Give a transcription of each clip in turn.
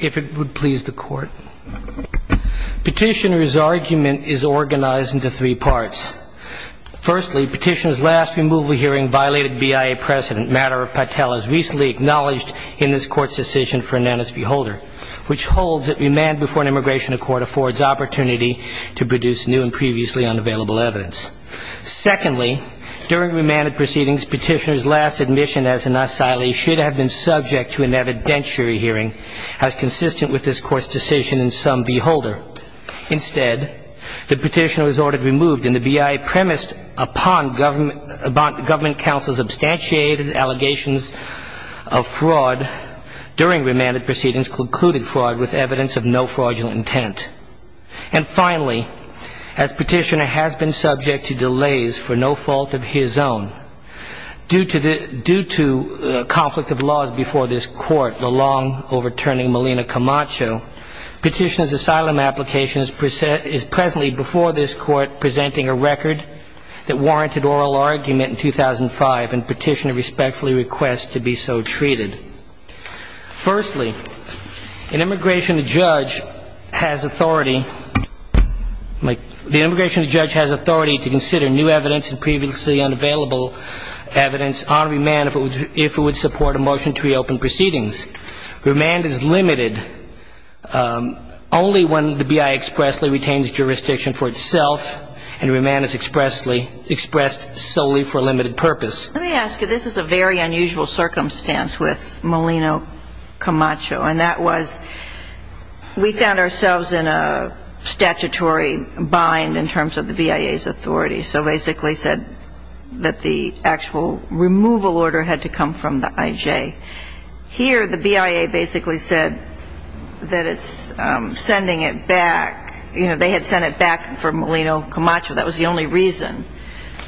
If it would please the court. Petitioner's argument is organized into three parts. Firstly, petitioner's last removal hearing violated BIA precedent, matter of Patel, as recently acknowledged in this court's decision for Ananas v. Holder, which holds that remand before an immigration accord affords opportunity to produce new and previously unavailable evidence. Secondly, during remanded proceedings, petitioner's last admission as an asylee should have been subject to an evidentiary hearing as consistent with this court's decision in Sum v. Holder. Instead, the petitioner was ordered removed, and the BIA premised upon government counsel's substantiated allegations of fraud during remanded proceedings concluded fraud with evidence of no fraudulent intent. And finally, as petitioner has been subject to delays for no fault of his own, due to conflict of laws before this court, the long overturning Melina Camacho, petitioner's asylum application is presently before this court presenting a record that warranted oral argument in 2005, and petitioner respectfully requests to be so treated. Firstly, an immigration judge has authority to consider new evidence and previously unavailable evidence on remand if it would support a motion to reopen proceedings. Remand is limited only when the BIA expressly retains jurisdiction for itself, and remand is expressed solely for a limited purpose. Let me ask you, this is a very unusual circumstance with Melina Camacho. And that was, we found ourselves in a very difficult situation statutory bind in terms of the BIA's authority. So basically said that the actual removal order had to come from the IJ. Here, the BIA basically said that it's sending it back. They had sent it back for Melina Camacho. That was the only reason.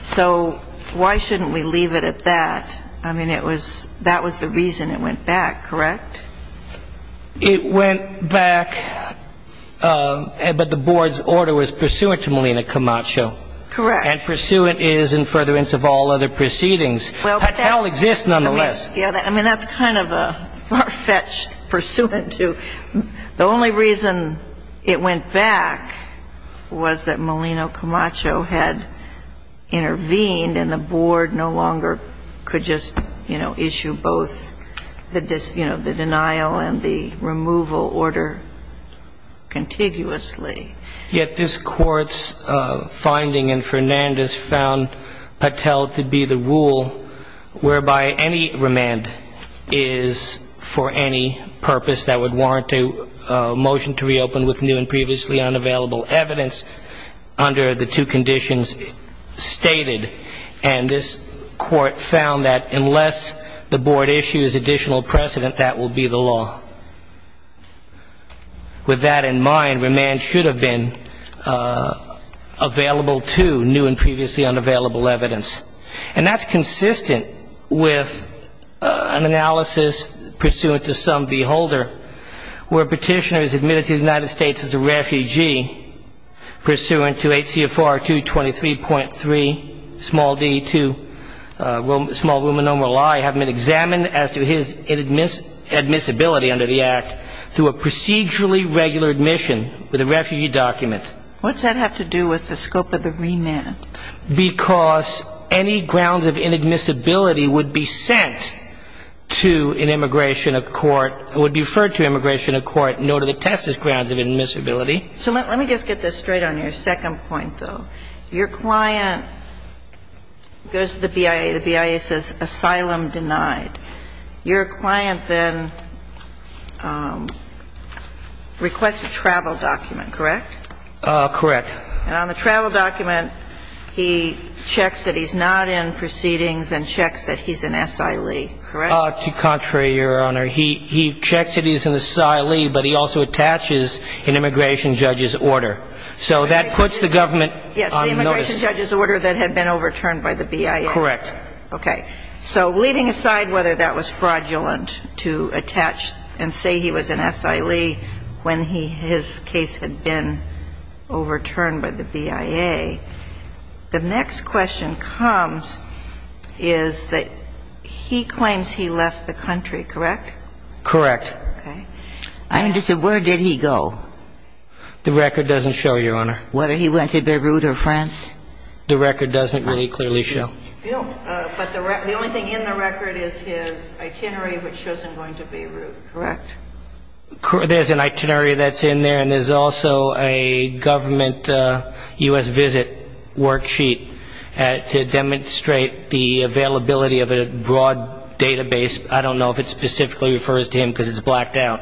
So why shouldn't we leave it at that? I mean, that was the reason it went back, correct? It went back, but the board's order was pursuant to Melina Camacho. Correct. And pursuant is in furtherance of all other proceedings. Well, but that's. That hell exists, nonetheless. Yeah, I mean, that's kind of a far-fetched pursuant to. The only reason it went back was that Melina Camacho had intervened, and the board no longer could just, you know, issue both the, you know, the denial and the removal order contiguously. Yet this Court's finding in Fernandez found Patel to be the rule whereby any remand is for any purpose that would warrant a motion to reopen with new and previously unavailable evidence under the two conditions stated. And this Court found that unless the board issues additional precedent, that will be the law. With that in mind, remand should have been available to new and previously unavailable evidence. And that's consistent with an analysis pursuant to some V. Holder, where a petitioner is admitted to the United States as a refugee pursuant to H.C.F.R. 223.3, small d, to small ruminomeral I, and they have him examined as to his admissibility under the Act through a procedurally regular admission with a refugee document. What's that have to do with the scope of the remand? Because any grounds of inadmissibility would be sent to an immigration of court, would be referred to immigration of court, no to the testis grounds of inadmissibility. So let me just get this straight on your second point, though. Your client goes to the BIA. The BIA says asylum denied. Your client then requests a travel document, correct? Correct. And on the travel document, he checks that he's not in proceedings and checks that he's an SIL, correct? Contrary, Your Honor. He checks that he's an SIL, but he also attaches an immigration judge's order. So that puts the government on notice. Yes, the immigration judge's order that had been overturned by the BIA. Correct. Okay. So leaving aside whether that was fraudulent to attach and say he was an SIL when his case had been overturned by the BIA, the next question comes is that he claims he left the country, correct? Correct. Okay. I understand. Where did he go? The record doesn't show, Your Honor. Whether he went to Beirut or France? The record doesn't really clearly show. No, but the only thing in the record is his itinerary, which shows him going to Beirut, correct? There's an itinerary that's in there, and there's also a government U.S. visit worksheet to demonstrate the availability of a broad database. I don't know if it specifically refers to him because it's blacked out.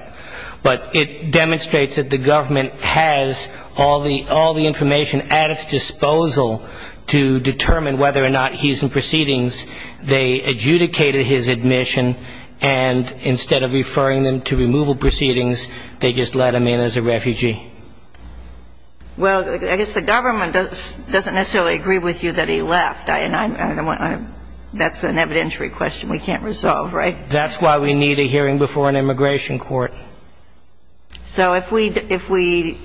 But it demonstrates that the government has all the information at its disposal to determine whether or not he's in proceedings. They adjudicated his admission, and instead of referring them to removal proceedings, they just let him in as a refugee. Well, I guess the government doesn't necessarily agree with you that he left. I don't know. That's an evidentiary question we can't resolve, right? That's why we need a hearing before an immigration court. So if we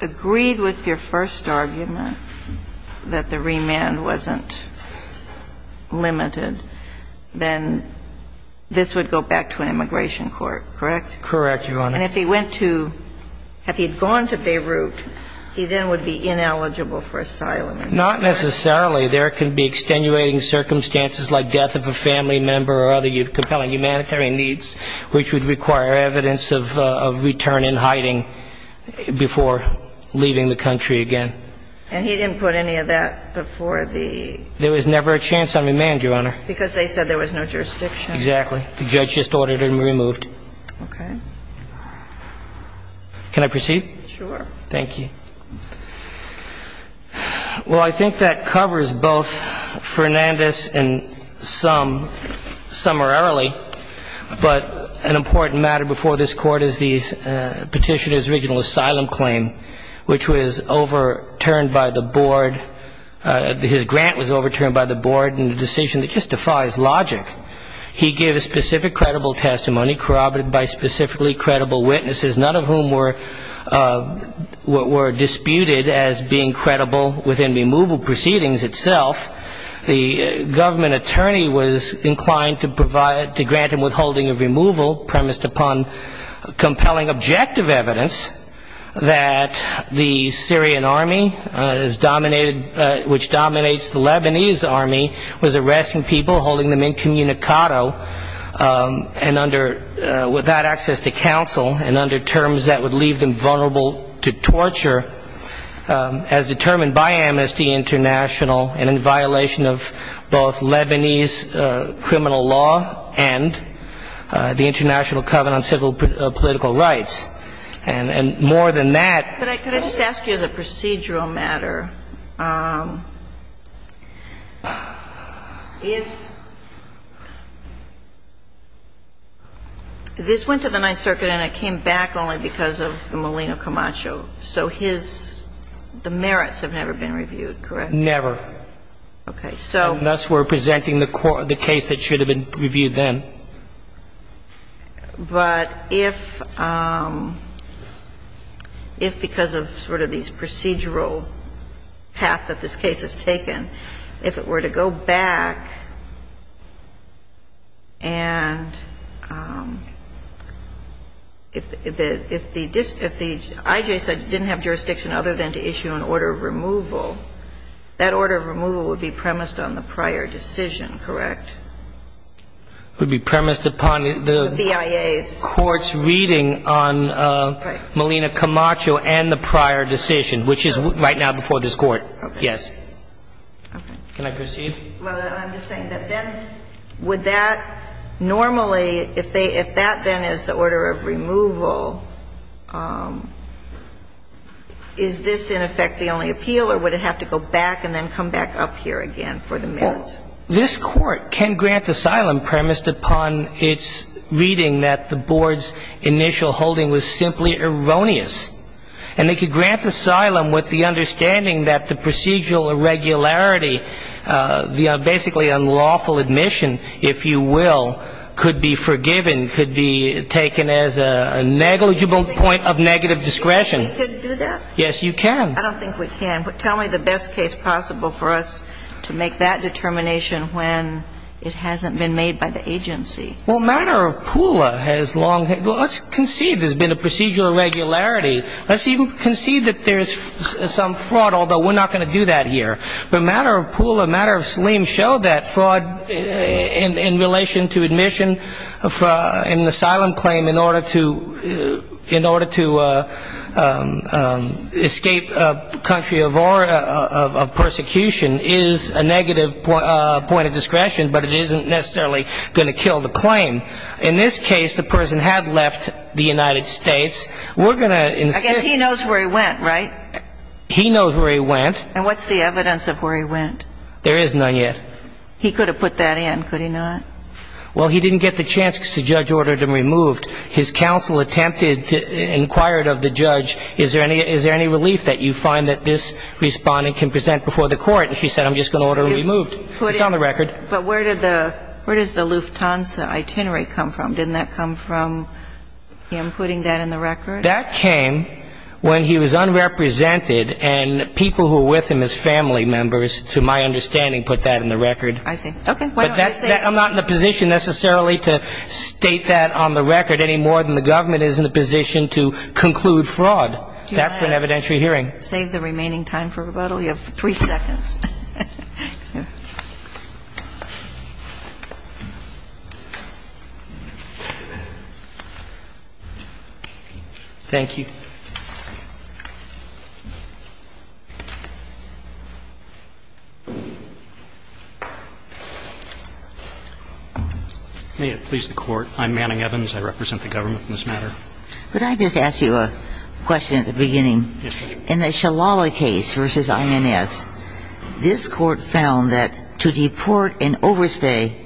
agreed with your first argument that the remand wasn't limited, then this would go back to an immigration court, correct? Correct, Your Honor. And if he went to – if he had gone to Beirut, he then would be ineligible for asylum. Not necessarily. There could be extenuating circumstances like death of a family member or other. So there's a lot of compelling humanitarian needs which would require evidence of return in hiding before leaving the country again. And he didn't put any of that before the – There was never a chance on remand, Your Honor. Because they said there was no jurisdiction. Exactly. The judge just ordered him removed. Okay. Can I proceed? Sure. Thank you. Well, I think that covers both Fernandez and Sum – Summararily. But an important matter before this Court is the Petitioner's regional asylum claim, which was overturned by the Board – his grant was overturned by the Board in a decision that just defies logic. He gave a specific credible testimony corroborated by specific evidence. None of whom were – were disputed as being credible within removal proceedings itself. The government attorney was inclined to provide – to grant him withholding of removal premised upon compelling objective evidence that the Syrian army is dominated – which dominates the Lebanese army was arresting people, holding them incommunicado, and under – without access to counsel, and under terms that would leave them vulnerable to torture as determined by Amnesty International and in violation of both Lebanese criminal law and the International Covenant on Civil Political Rights. And more than that – Could I – could I just ask you as a procedural matter, if – this went to the Ninth Circuit and it came back only because of Molino Camacho, so his – the merits have never been reviewed, correct? Never. Okay, so – Unless we're presenting the case that should have been reviewed then. Okay. But if – if because of sort of these procedural path that this case has taken, if it were to go back and if the – if the – if the IJ said it didn't have jurisdiction other than to issue an order of removal, that order of removal would be premised on the prior decision, correct? Would be premised upon the court's reading on Molino Camacho and the prior decision, which is right now before this Court. Okay. Yes. Okay. Can I proceed? Well, I'm just saying that then would that normally, if they – if that then is the order of removal, is this in effect the only appeal or would it have to go back and then come back up here again for the merits? This Court can grant asylum premised upon its reading that the board's initial holding was simply erroneous. And they could grant asylum with the understanding that the procedural irregularity, the basically unlawful admission, if you will, could be forgiven, could be taken as a negligible point of negative discretion. You think we could do that? Yes, you can. I don't think we can. Tell me the best case possible for us to make that determination when it hasn't been made by the agency. Well, matter of PULA has long – let's concede there's been a procedural irregularity. Let's even concede that there's some fraud, although we're not going to do that here. But matter of PULA, matter of SLEEM showed that fraud in relation to admission in the asylum claim in order to escape a country of persecution is a negative point of discretion, but it isn't necessarily going to kill the claim. In this case, the person had left the United States. We're going to insist – Again, he knows where he went, right? He knows where he went. And what's the evidence of where he went? There is none yet. He could have put that in, could he not? Well, he didn't get the chance because the judge ordered him removed. His counsel attempted to – inquired of the judge, is there any relief that you find that this respondent can present before the court? And she said, I'm just going to order him removed. It's on the record. But where did the – where does the Lufthansa itinerary come from? Didn't that come from him putting that in the record? That came when he was unrepresented and people who were with him as family members, to my understanding, put that in the record. I see. Okay. I'm not in a position necessarily to state that on the record any more than the government is in a position to conclude fraud. That's an evidentiary hearing. Do you want to save the remaining time for rebuttal? You have three seconds. Thank you. May it please the Court. I'm Manning Evans. I represent the government in this matter. Could I just ask you a question at the beginning? Yes, Your Honor. In the Shalala case versus INS, this Court found that to deport and overstay,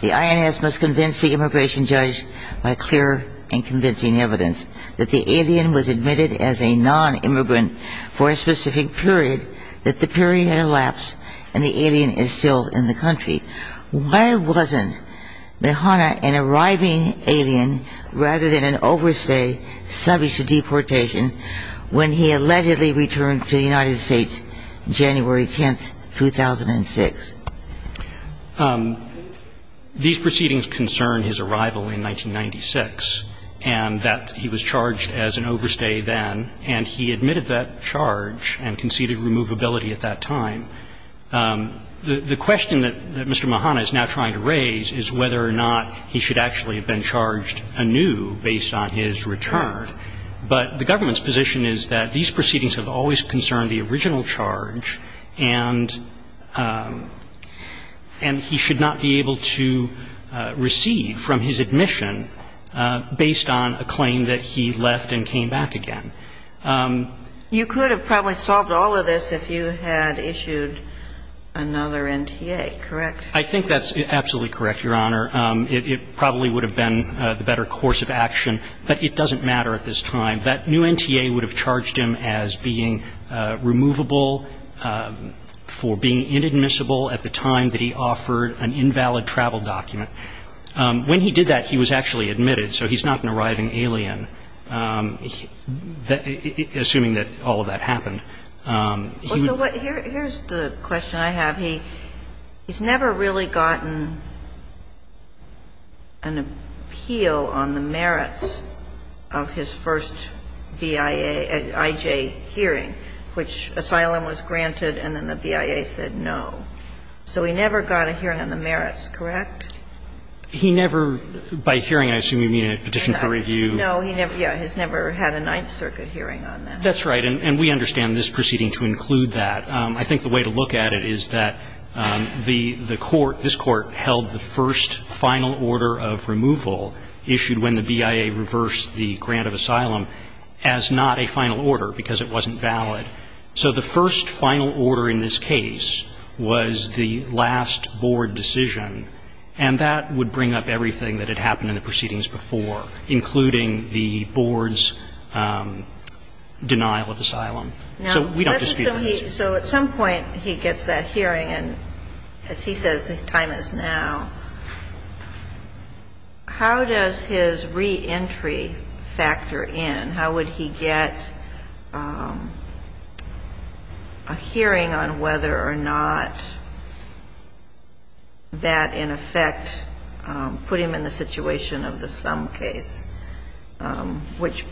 the INS must convince the immigration judge by clear and convincing evidence that the alien was not the alien. In the Shalala case versus INS, it was admitted as a nonimmigrant for a specific period that the period had elapsed and the alien is still in the country. Why wasn't Mahana an arriving alien rather than an overstay subject to deportation when he allegedly returned to the United States January 10th, 2006? These proceedings concern his arrival in 1996 and that he was charged as an overstay then, and he admitted that charge and conceded removability at that time. The question that Mr. Mahana is now trying to raise is whether or not he should actually have been charged anew based on his return. But the government's position is that these proceedings have always concerned the original charge, and he should not be able to receive from his admission based on a claim that he left and came back again. You could have probably solved all of this if you had issued another NTA, correct? I think that's absolutely correct, Your Honor. It probably would have been the better course of action, but it doesn't matter at this time. That new NTA would have charged him as being removable for being inadmissible at the time that he offered an invalid travel document. When he did that, he was actually admitted, so he's not an arriving alien, assuming that all of that happened. Well, so here's the question I have. He's never really gotten an appeal on the merits of his first BIA, IJ hearing, which asylum was granted and then the BIA said no. So he never got a hearing on the merits, correct? He never, by hearing I assume you mean a petition for review. No, he never, yeah, he's never had a Ninth Circuit hearing on that. That's right, and we understand this proceeding to include that. But I think the way to look at it is that the court, this Court, held the first final order of removal issued when the BIA reversed the grant of asylum as not a final order because it wasn't valid. So the first final order in this case was the last board decision, and that would bring up everything that had happened in the proceedings before, including the board's denial of asylum. So we don't dispute that. So at some point he gets that hearing, and as he says, the time is now. How does his reentry factor in? How would he get a hearing on whether or not that in effect put him in the situation of the sum case, which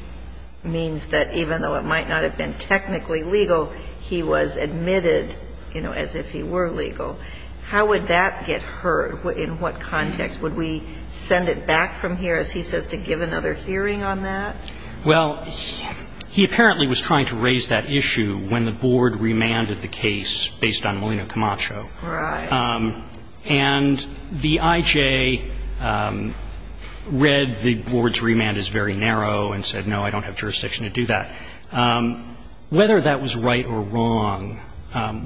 means that even though it might not have been technically legal, he was admitted, you know, as if he were legal? How would that get heard? In what context? Would we send it back from here, as he says, to give another hearing on that? Well, he apparently was trying to raise that issue when the board remanded the case based on Molina Camacho. Right. And the IJ read the board's remand as very narrow and said, no, I don't have jurisdiction to do that. Whether that was right or wrong,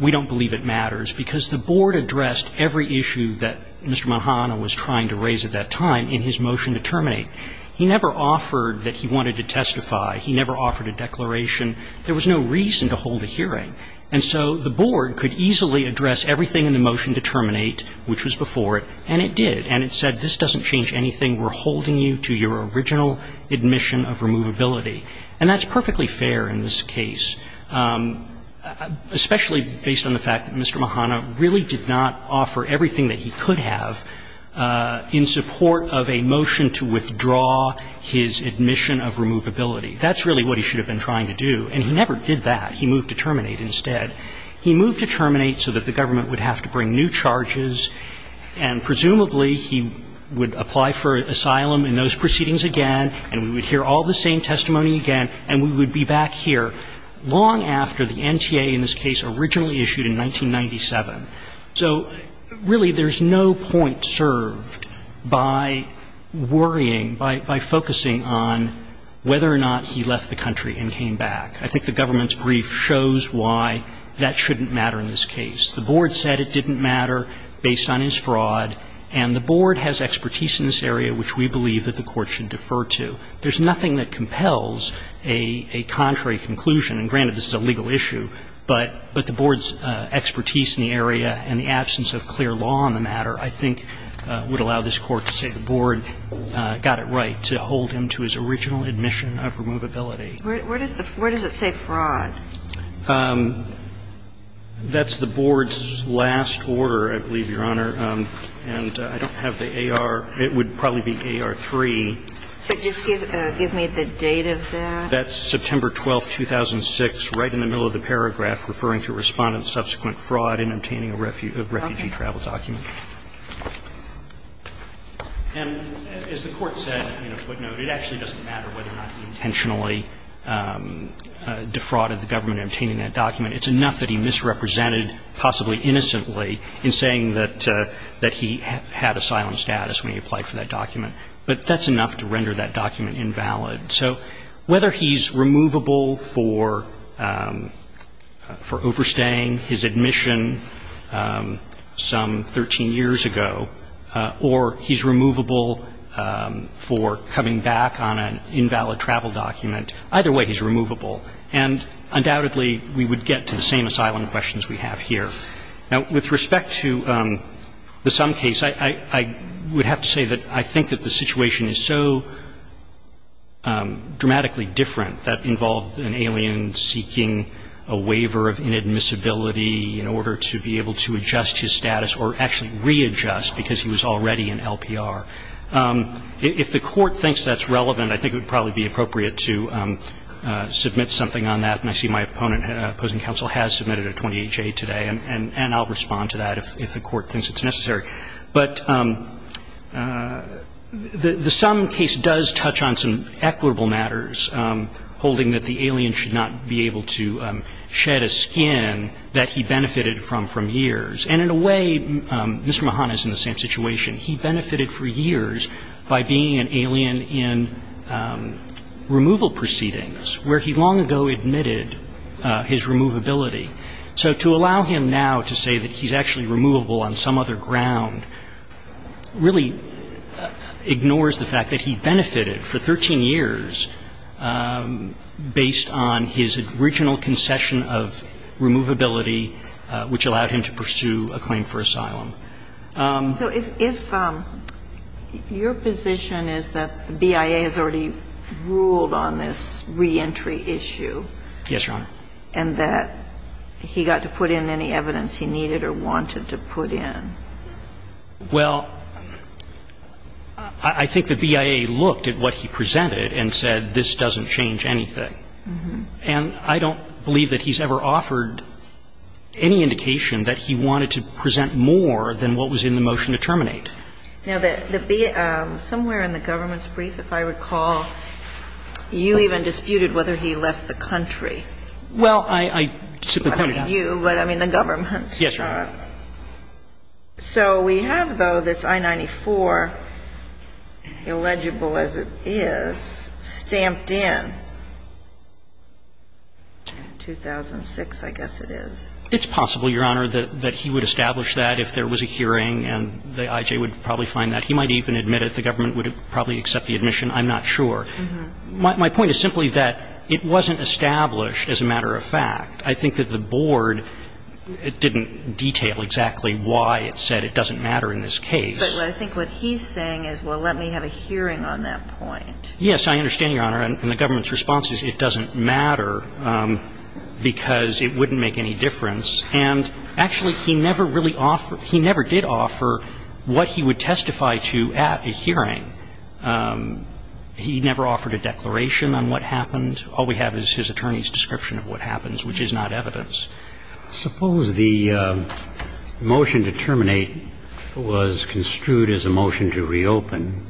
we don't believe it matters, because the board addressed every issue that Mr. Mahana was trying to raise at that time in his motion to terminate. He never offered that he wanted to testify. He never offered a declaration. There was no reason to hold a hearing. And so the board could easily address everything in the motion to terminate, which was before it, and it did. And it said, this doesn't change anything. We're holding you to your original admission of removability. And that's perfectly fair in this case, especially based on the fact that Mr. Mahana really did not offer everything that he could have in support of a motion to withdraw his admission of removability. That's really what he should have been trying to do. And he never did that. He moved to terminate instead. He moved to terminate so that the government would have to bring new charges, and presumably he would apply for asylum in those proceedings again, and we would hear all the same testimony again, and we would be back here long after the NTA in this case originally issued in 1997. So, really, there's no point served by worrying, by focusing on whether or not he left the country and came back. I think the government's brief shows why that shouldn't matter in this case. The Board said it didn't matter based on his fraud, and the Board has expertise in this area which we believe that the Court should defer to. There's nothing that compels a contrary conclusion. And granted, this is a legal issue, but the Board's expertise in the area and the absence of clear law on the matter, I think, would allow this Court to say the Board got it right to hold him to his original admission of removability. Where does it say fraud? That's the Board's last order, I believe, Your Honor, and I don't have the AR. It would probably be AR3. Could you just give me the date of that? That's September 12, 2006, right in the middle of the paragraph referring to Respondent's subsequent fraud in obtaining a refugee travel document. And as the Court said in a footnote, it actually doesn't matter whether or not he intentionally defrauded the government in obtaining that document. It's enough that he misrepresented, possibly innocently, in saying that he had asylum status when he applied for that document. But that's enough to render that document invalid. So whether he's removable for overstaying his admission some 13 years ago, or he's going back on an invalid travel document, either way he's removable. And undoubtedly, we would get to the same asylum questions we have here. Now, with respect to the Sum case, I would have to say that I think that the situation is so dramatically different that involved an alien seeking a waiver of inadmissibility in order to be able to adjust his status or actually readjust because he was already in LPR. If the Court thinks that's relevant, I think it would probably be appropriate to submit something on that. And I see my opposing counsel has submitted a 28-J today, and I'll respond to that if the Court thinks it's necessary. But the Sum case does touch on some equitable matters, holding that the alien should not be able to shed a skin that he benefited from for years. And in a way, Mr. Mahan is in the same situation. He benefited for years by being an alien in removal proceedings, where he long ago admitted his removability. So to allow him now to say that he's actually removable on some other ground really ignores the fact that he benefited for 13 years based on his original concession of removability, which allowed him to pursue a claim for asylum. So if your position is that the BIA has already ruled on this reentry issue. Yes, Your Honor. And that he got to put in any evidence he needed or wanted to put in. Well, I think the BIA looked at what he presented and said this doesn't change anything. And I don't believe that he's ever offered any indication that he wanted to present more than what was in the motion to terminate. Now, the BIA, somewhere in the government's brief, if I recall, you even disputed whether he left the country. Well, I simply pointed out. I don't mean you, but I mean the government. Yes, Your Honor. So we have, though, this I-94, illegible as it is, stamped in 2006, I guess it is. It's possible, Your Honor, that he would establish that if there was a hearing and the IJ would probably find that. He might even admit it. The government would probably accept the admission. I'm not sure. My point is simply that it wasn't established as a matter of fact. I think that the board didn't detail exactly why it said it doesn't matter in this case. But I think what he's saying is, well, let me have a hearing on that point. Yes. I understand, Your Honor. And the government's response is it doesn't matter because it wouldn't make any difference. And actually, he never really offered he never did offer what he would testify to at a hearing. He never offered a declaration on what happened. All we have is his attorney's description of what happens, which is not evidence. Suppose the motion to terminate was construed as a motion to reopen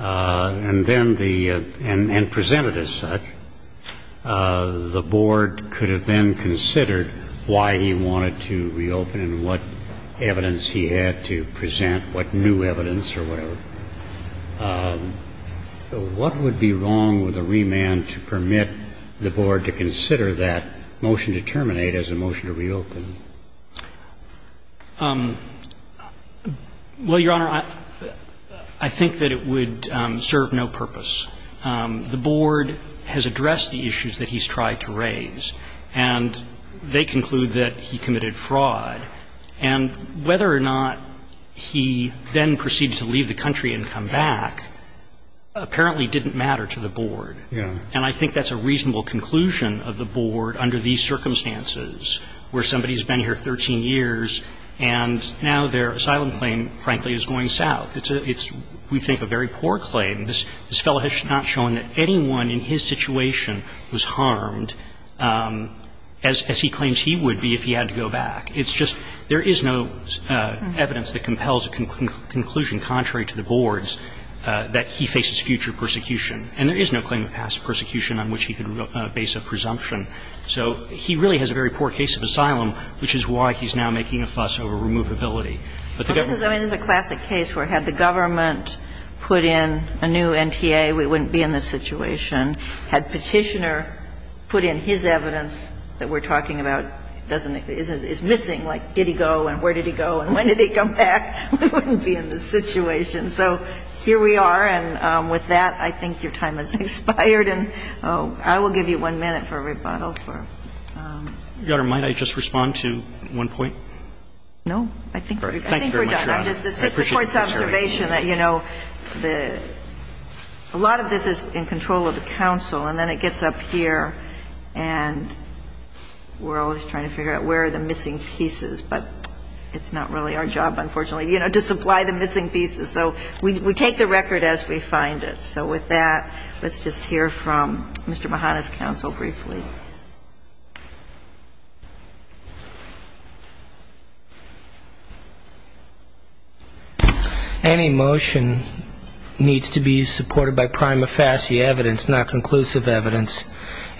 and then the and presented as such, the board could have then considered why he wanted to reopen and what evidence he had to present, what new evidence or whatever. So what would be wrong with a remand to permit the board to consider that motion to terminate as a motion to reopen? Well, Your Honor, I think that it would serve no purpose. The board has addressed the issues that he's tried to raise, and they conclude that he committed fraud. And whether or not he then proceeded to leave the country and come back apparently didn't matter to the board. Yeah. And I think that's a reasonable conclusion of the board under these circumstances, where somebody's been here 13 years and now their asylum claim, frankly, is going south. It's, we think, a very poor claim. This fellow has not shown that anyone in his situation was harmed as he claims he would be if he had to go back. It's just, there is no evidence that compels a conclusion contrary to the board's that he faces future persecution. And there is no claim of past persecution on which he could base a presumption. So he really has a very poor case of asylum, which is why he's now making a fuss over removability. But the government can't. I mean, this is a classic case where had the government put in a new NTA, we wouldn't be in this situation. Had Petitioner put in his evidence that we're talking about, it doesn't, it's missing. Like, did he go and where did he go and when did he come back? We wouldn't be in this situation. So here we are. And with that, I think your time has expired. And I will give you one minute for a rebuttal for. Your Honor, might I just respond to one point? No. I think we're done. Thank you very much, Your Honor. I appreciate your concern. And just an observation, you know, the, a lot of this is in control of the counsel and then it gets up here and we're always trying to figure out where are the missing pieces? But it's not really our job, unfortunately, you know, to supply the missing pieces. So we take the record as we find it. So with that, let's just hear from Mr. Mahana's counsel briefly. Any motion needs to be supported by prima facie evidence, not conclusive evidence.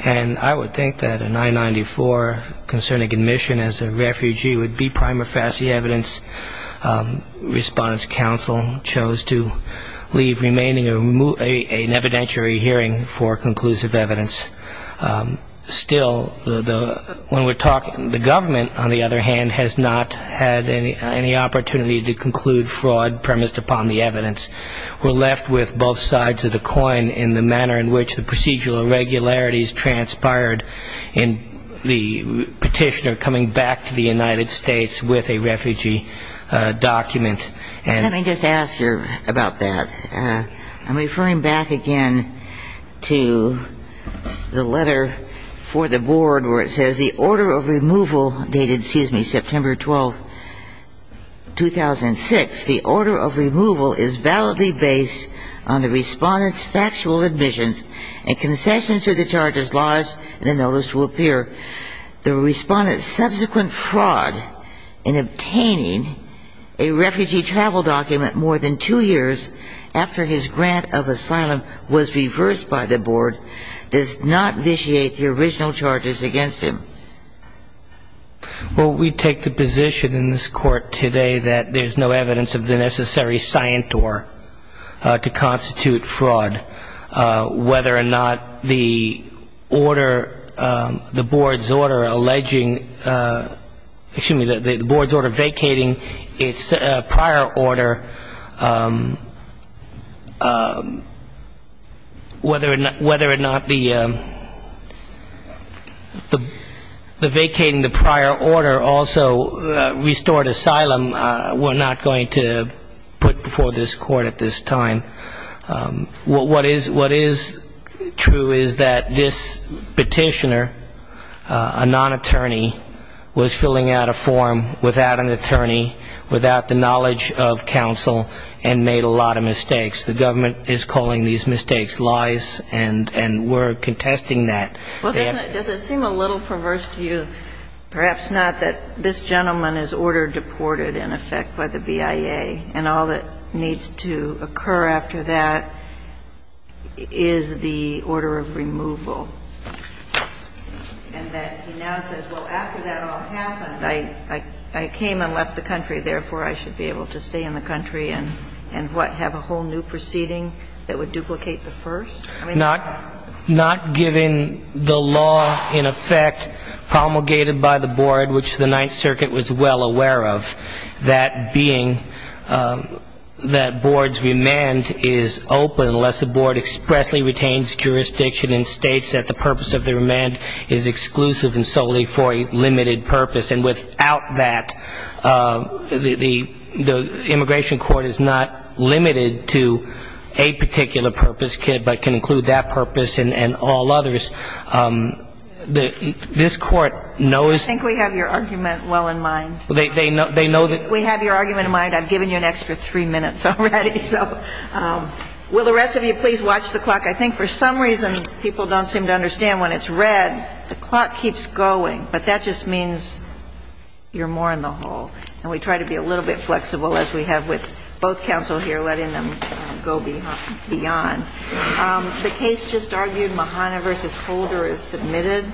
And I would think that an I-94 concerning admission as a refugee would be prima facie evidence. Respondent's counsel chose to leave remaining an evidentiary hearing for conclusive evidence. Still, when we're talking, the government, on the other hand, has not had any opportunity to conclude fraud premised upon the evidence. We're left with both sides of the coin in the manner in which the procedural irregularities transpired in the petitioner coming back to the United States with a refugee document. Let me just ask you about that. I'm referring back again to the letter for the board where it says, dated, excuse me, September 12, 2006. The order of removal is validly based on the respondent's factual admissions and concessions to the charges lodged in the notice to appear. The respondent's subsequent fraud in obtaining a refugee travel document more than two years after his grant of asylum was reversed by the board does not initiate the original charges against him. Well, we take the position in this court today that there's no evidence of the necessary scientor to constitute fraud. Whether or not the order, the board's order alleging, excuse me, the board's order vacating its prior order, whether or not the vacating the prior order also restored asylum, we're not going to put before this court at this time. What is true is that this petitioner, a non-attorney, was filling out a form without an attorney, without the knowledge of counsel, and made a lot of mistakes. The government is calling these mistakes lies, and we're contesting that. Well, doesn't it seem a little perverse to you, perhaps not, that this gentleman is order deported, in effect, by the BIA, and all that needs to occur after that is the order of removal, and that he now says, well, after that all happened, I came and left the country, therefore I should be able to stay in the country and, what, have a whole new proceeding that would duplicate the first? Not given the law, in effect, promulgated by the board, which the Ninth Circuit was well aware of, that being that board's remand is open unless the board expressly retains jurisdiction and states that the purpose of the remand is exclusive and solely for a limited purpose. And without that, the immigration court is not limited to a particular purpose, but it can include that purpose and all others. This Court knows that. I think we have your argument well in mind. They know that. We have your argument in mind. I've given you an extra three minutes already. So will the rest of you please watch the clock? I think for some reason people don't seem to understand. When it's red, the clock keeps going. But that just means you're more in the hole. And we try to be a little bit flexible, as we have with both counsel here, letting them go beyond. The case just argued. Mahana v. Holder is submitted.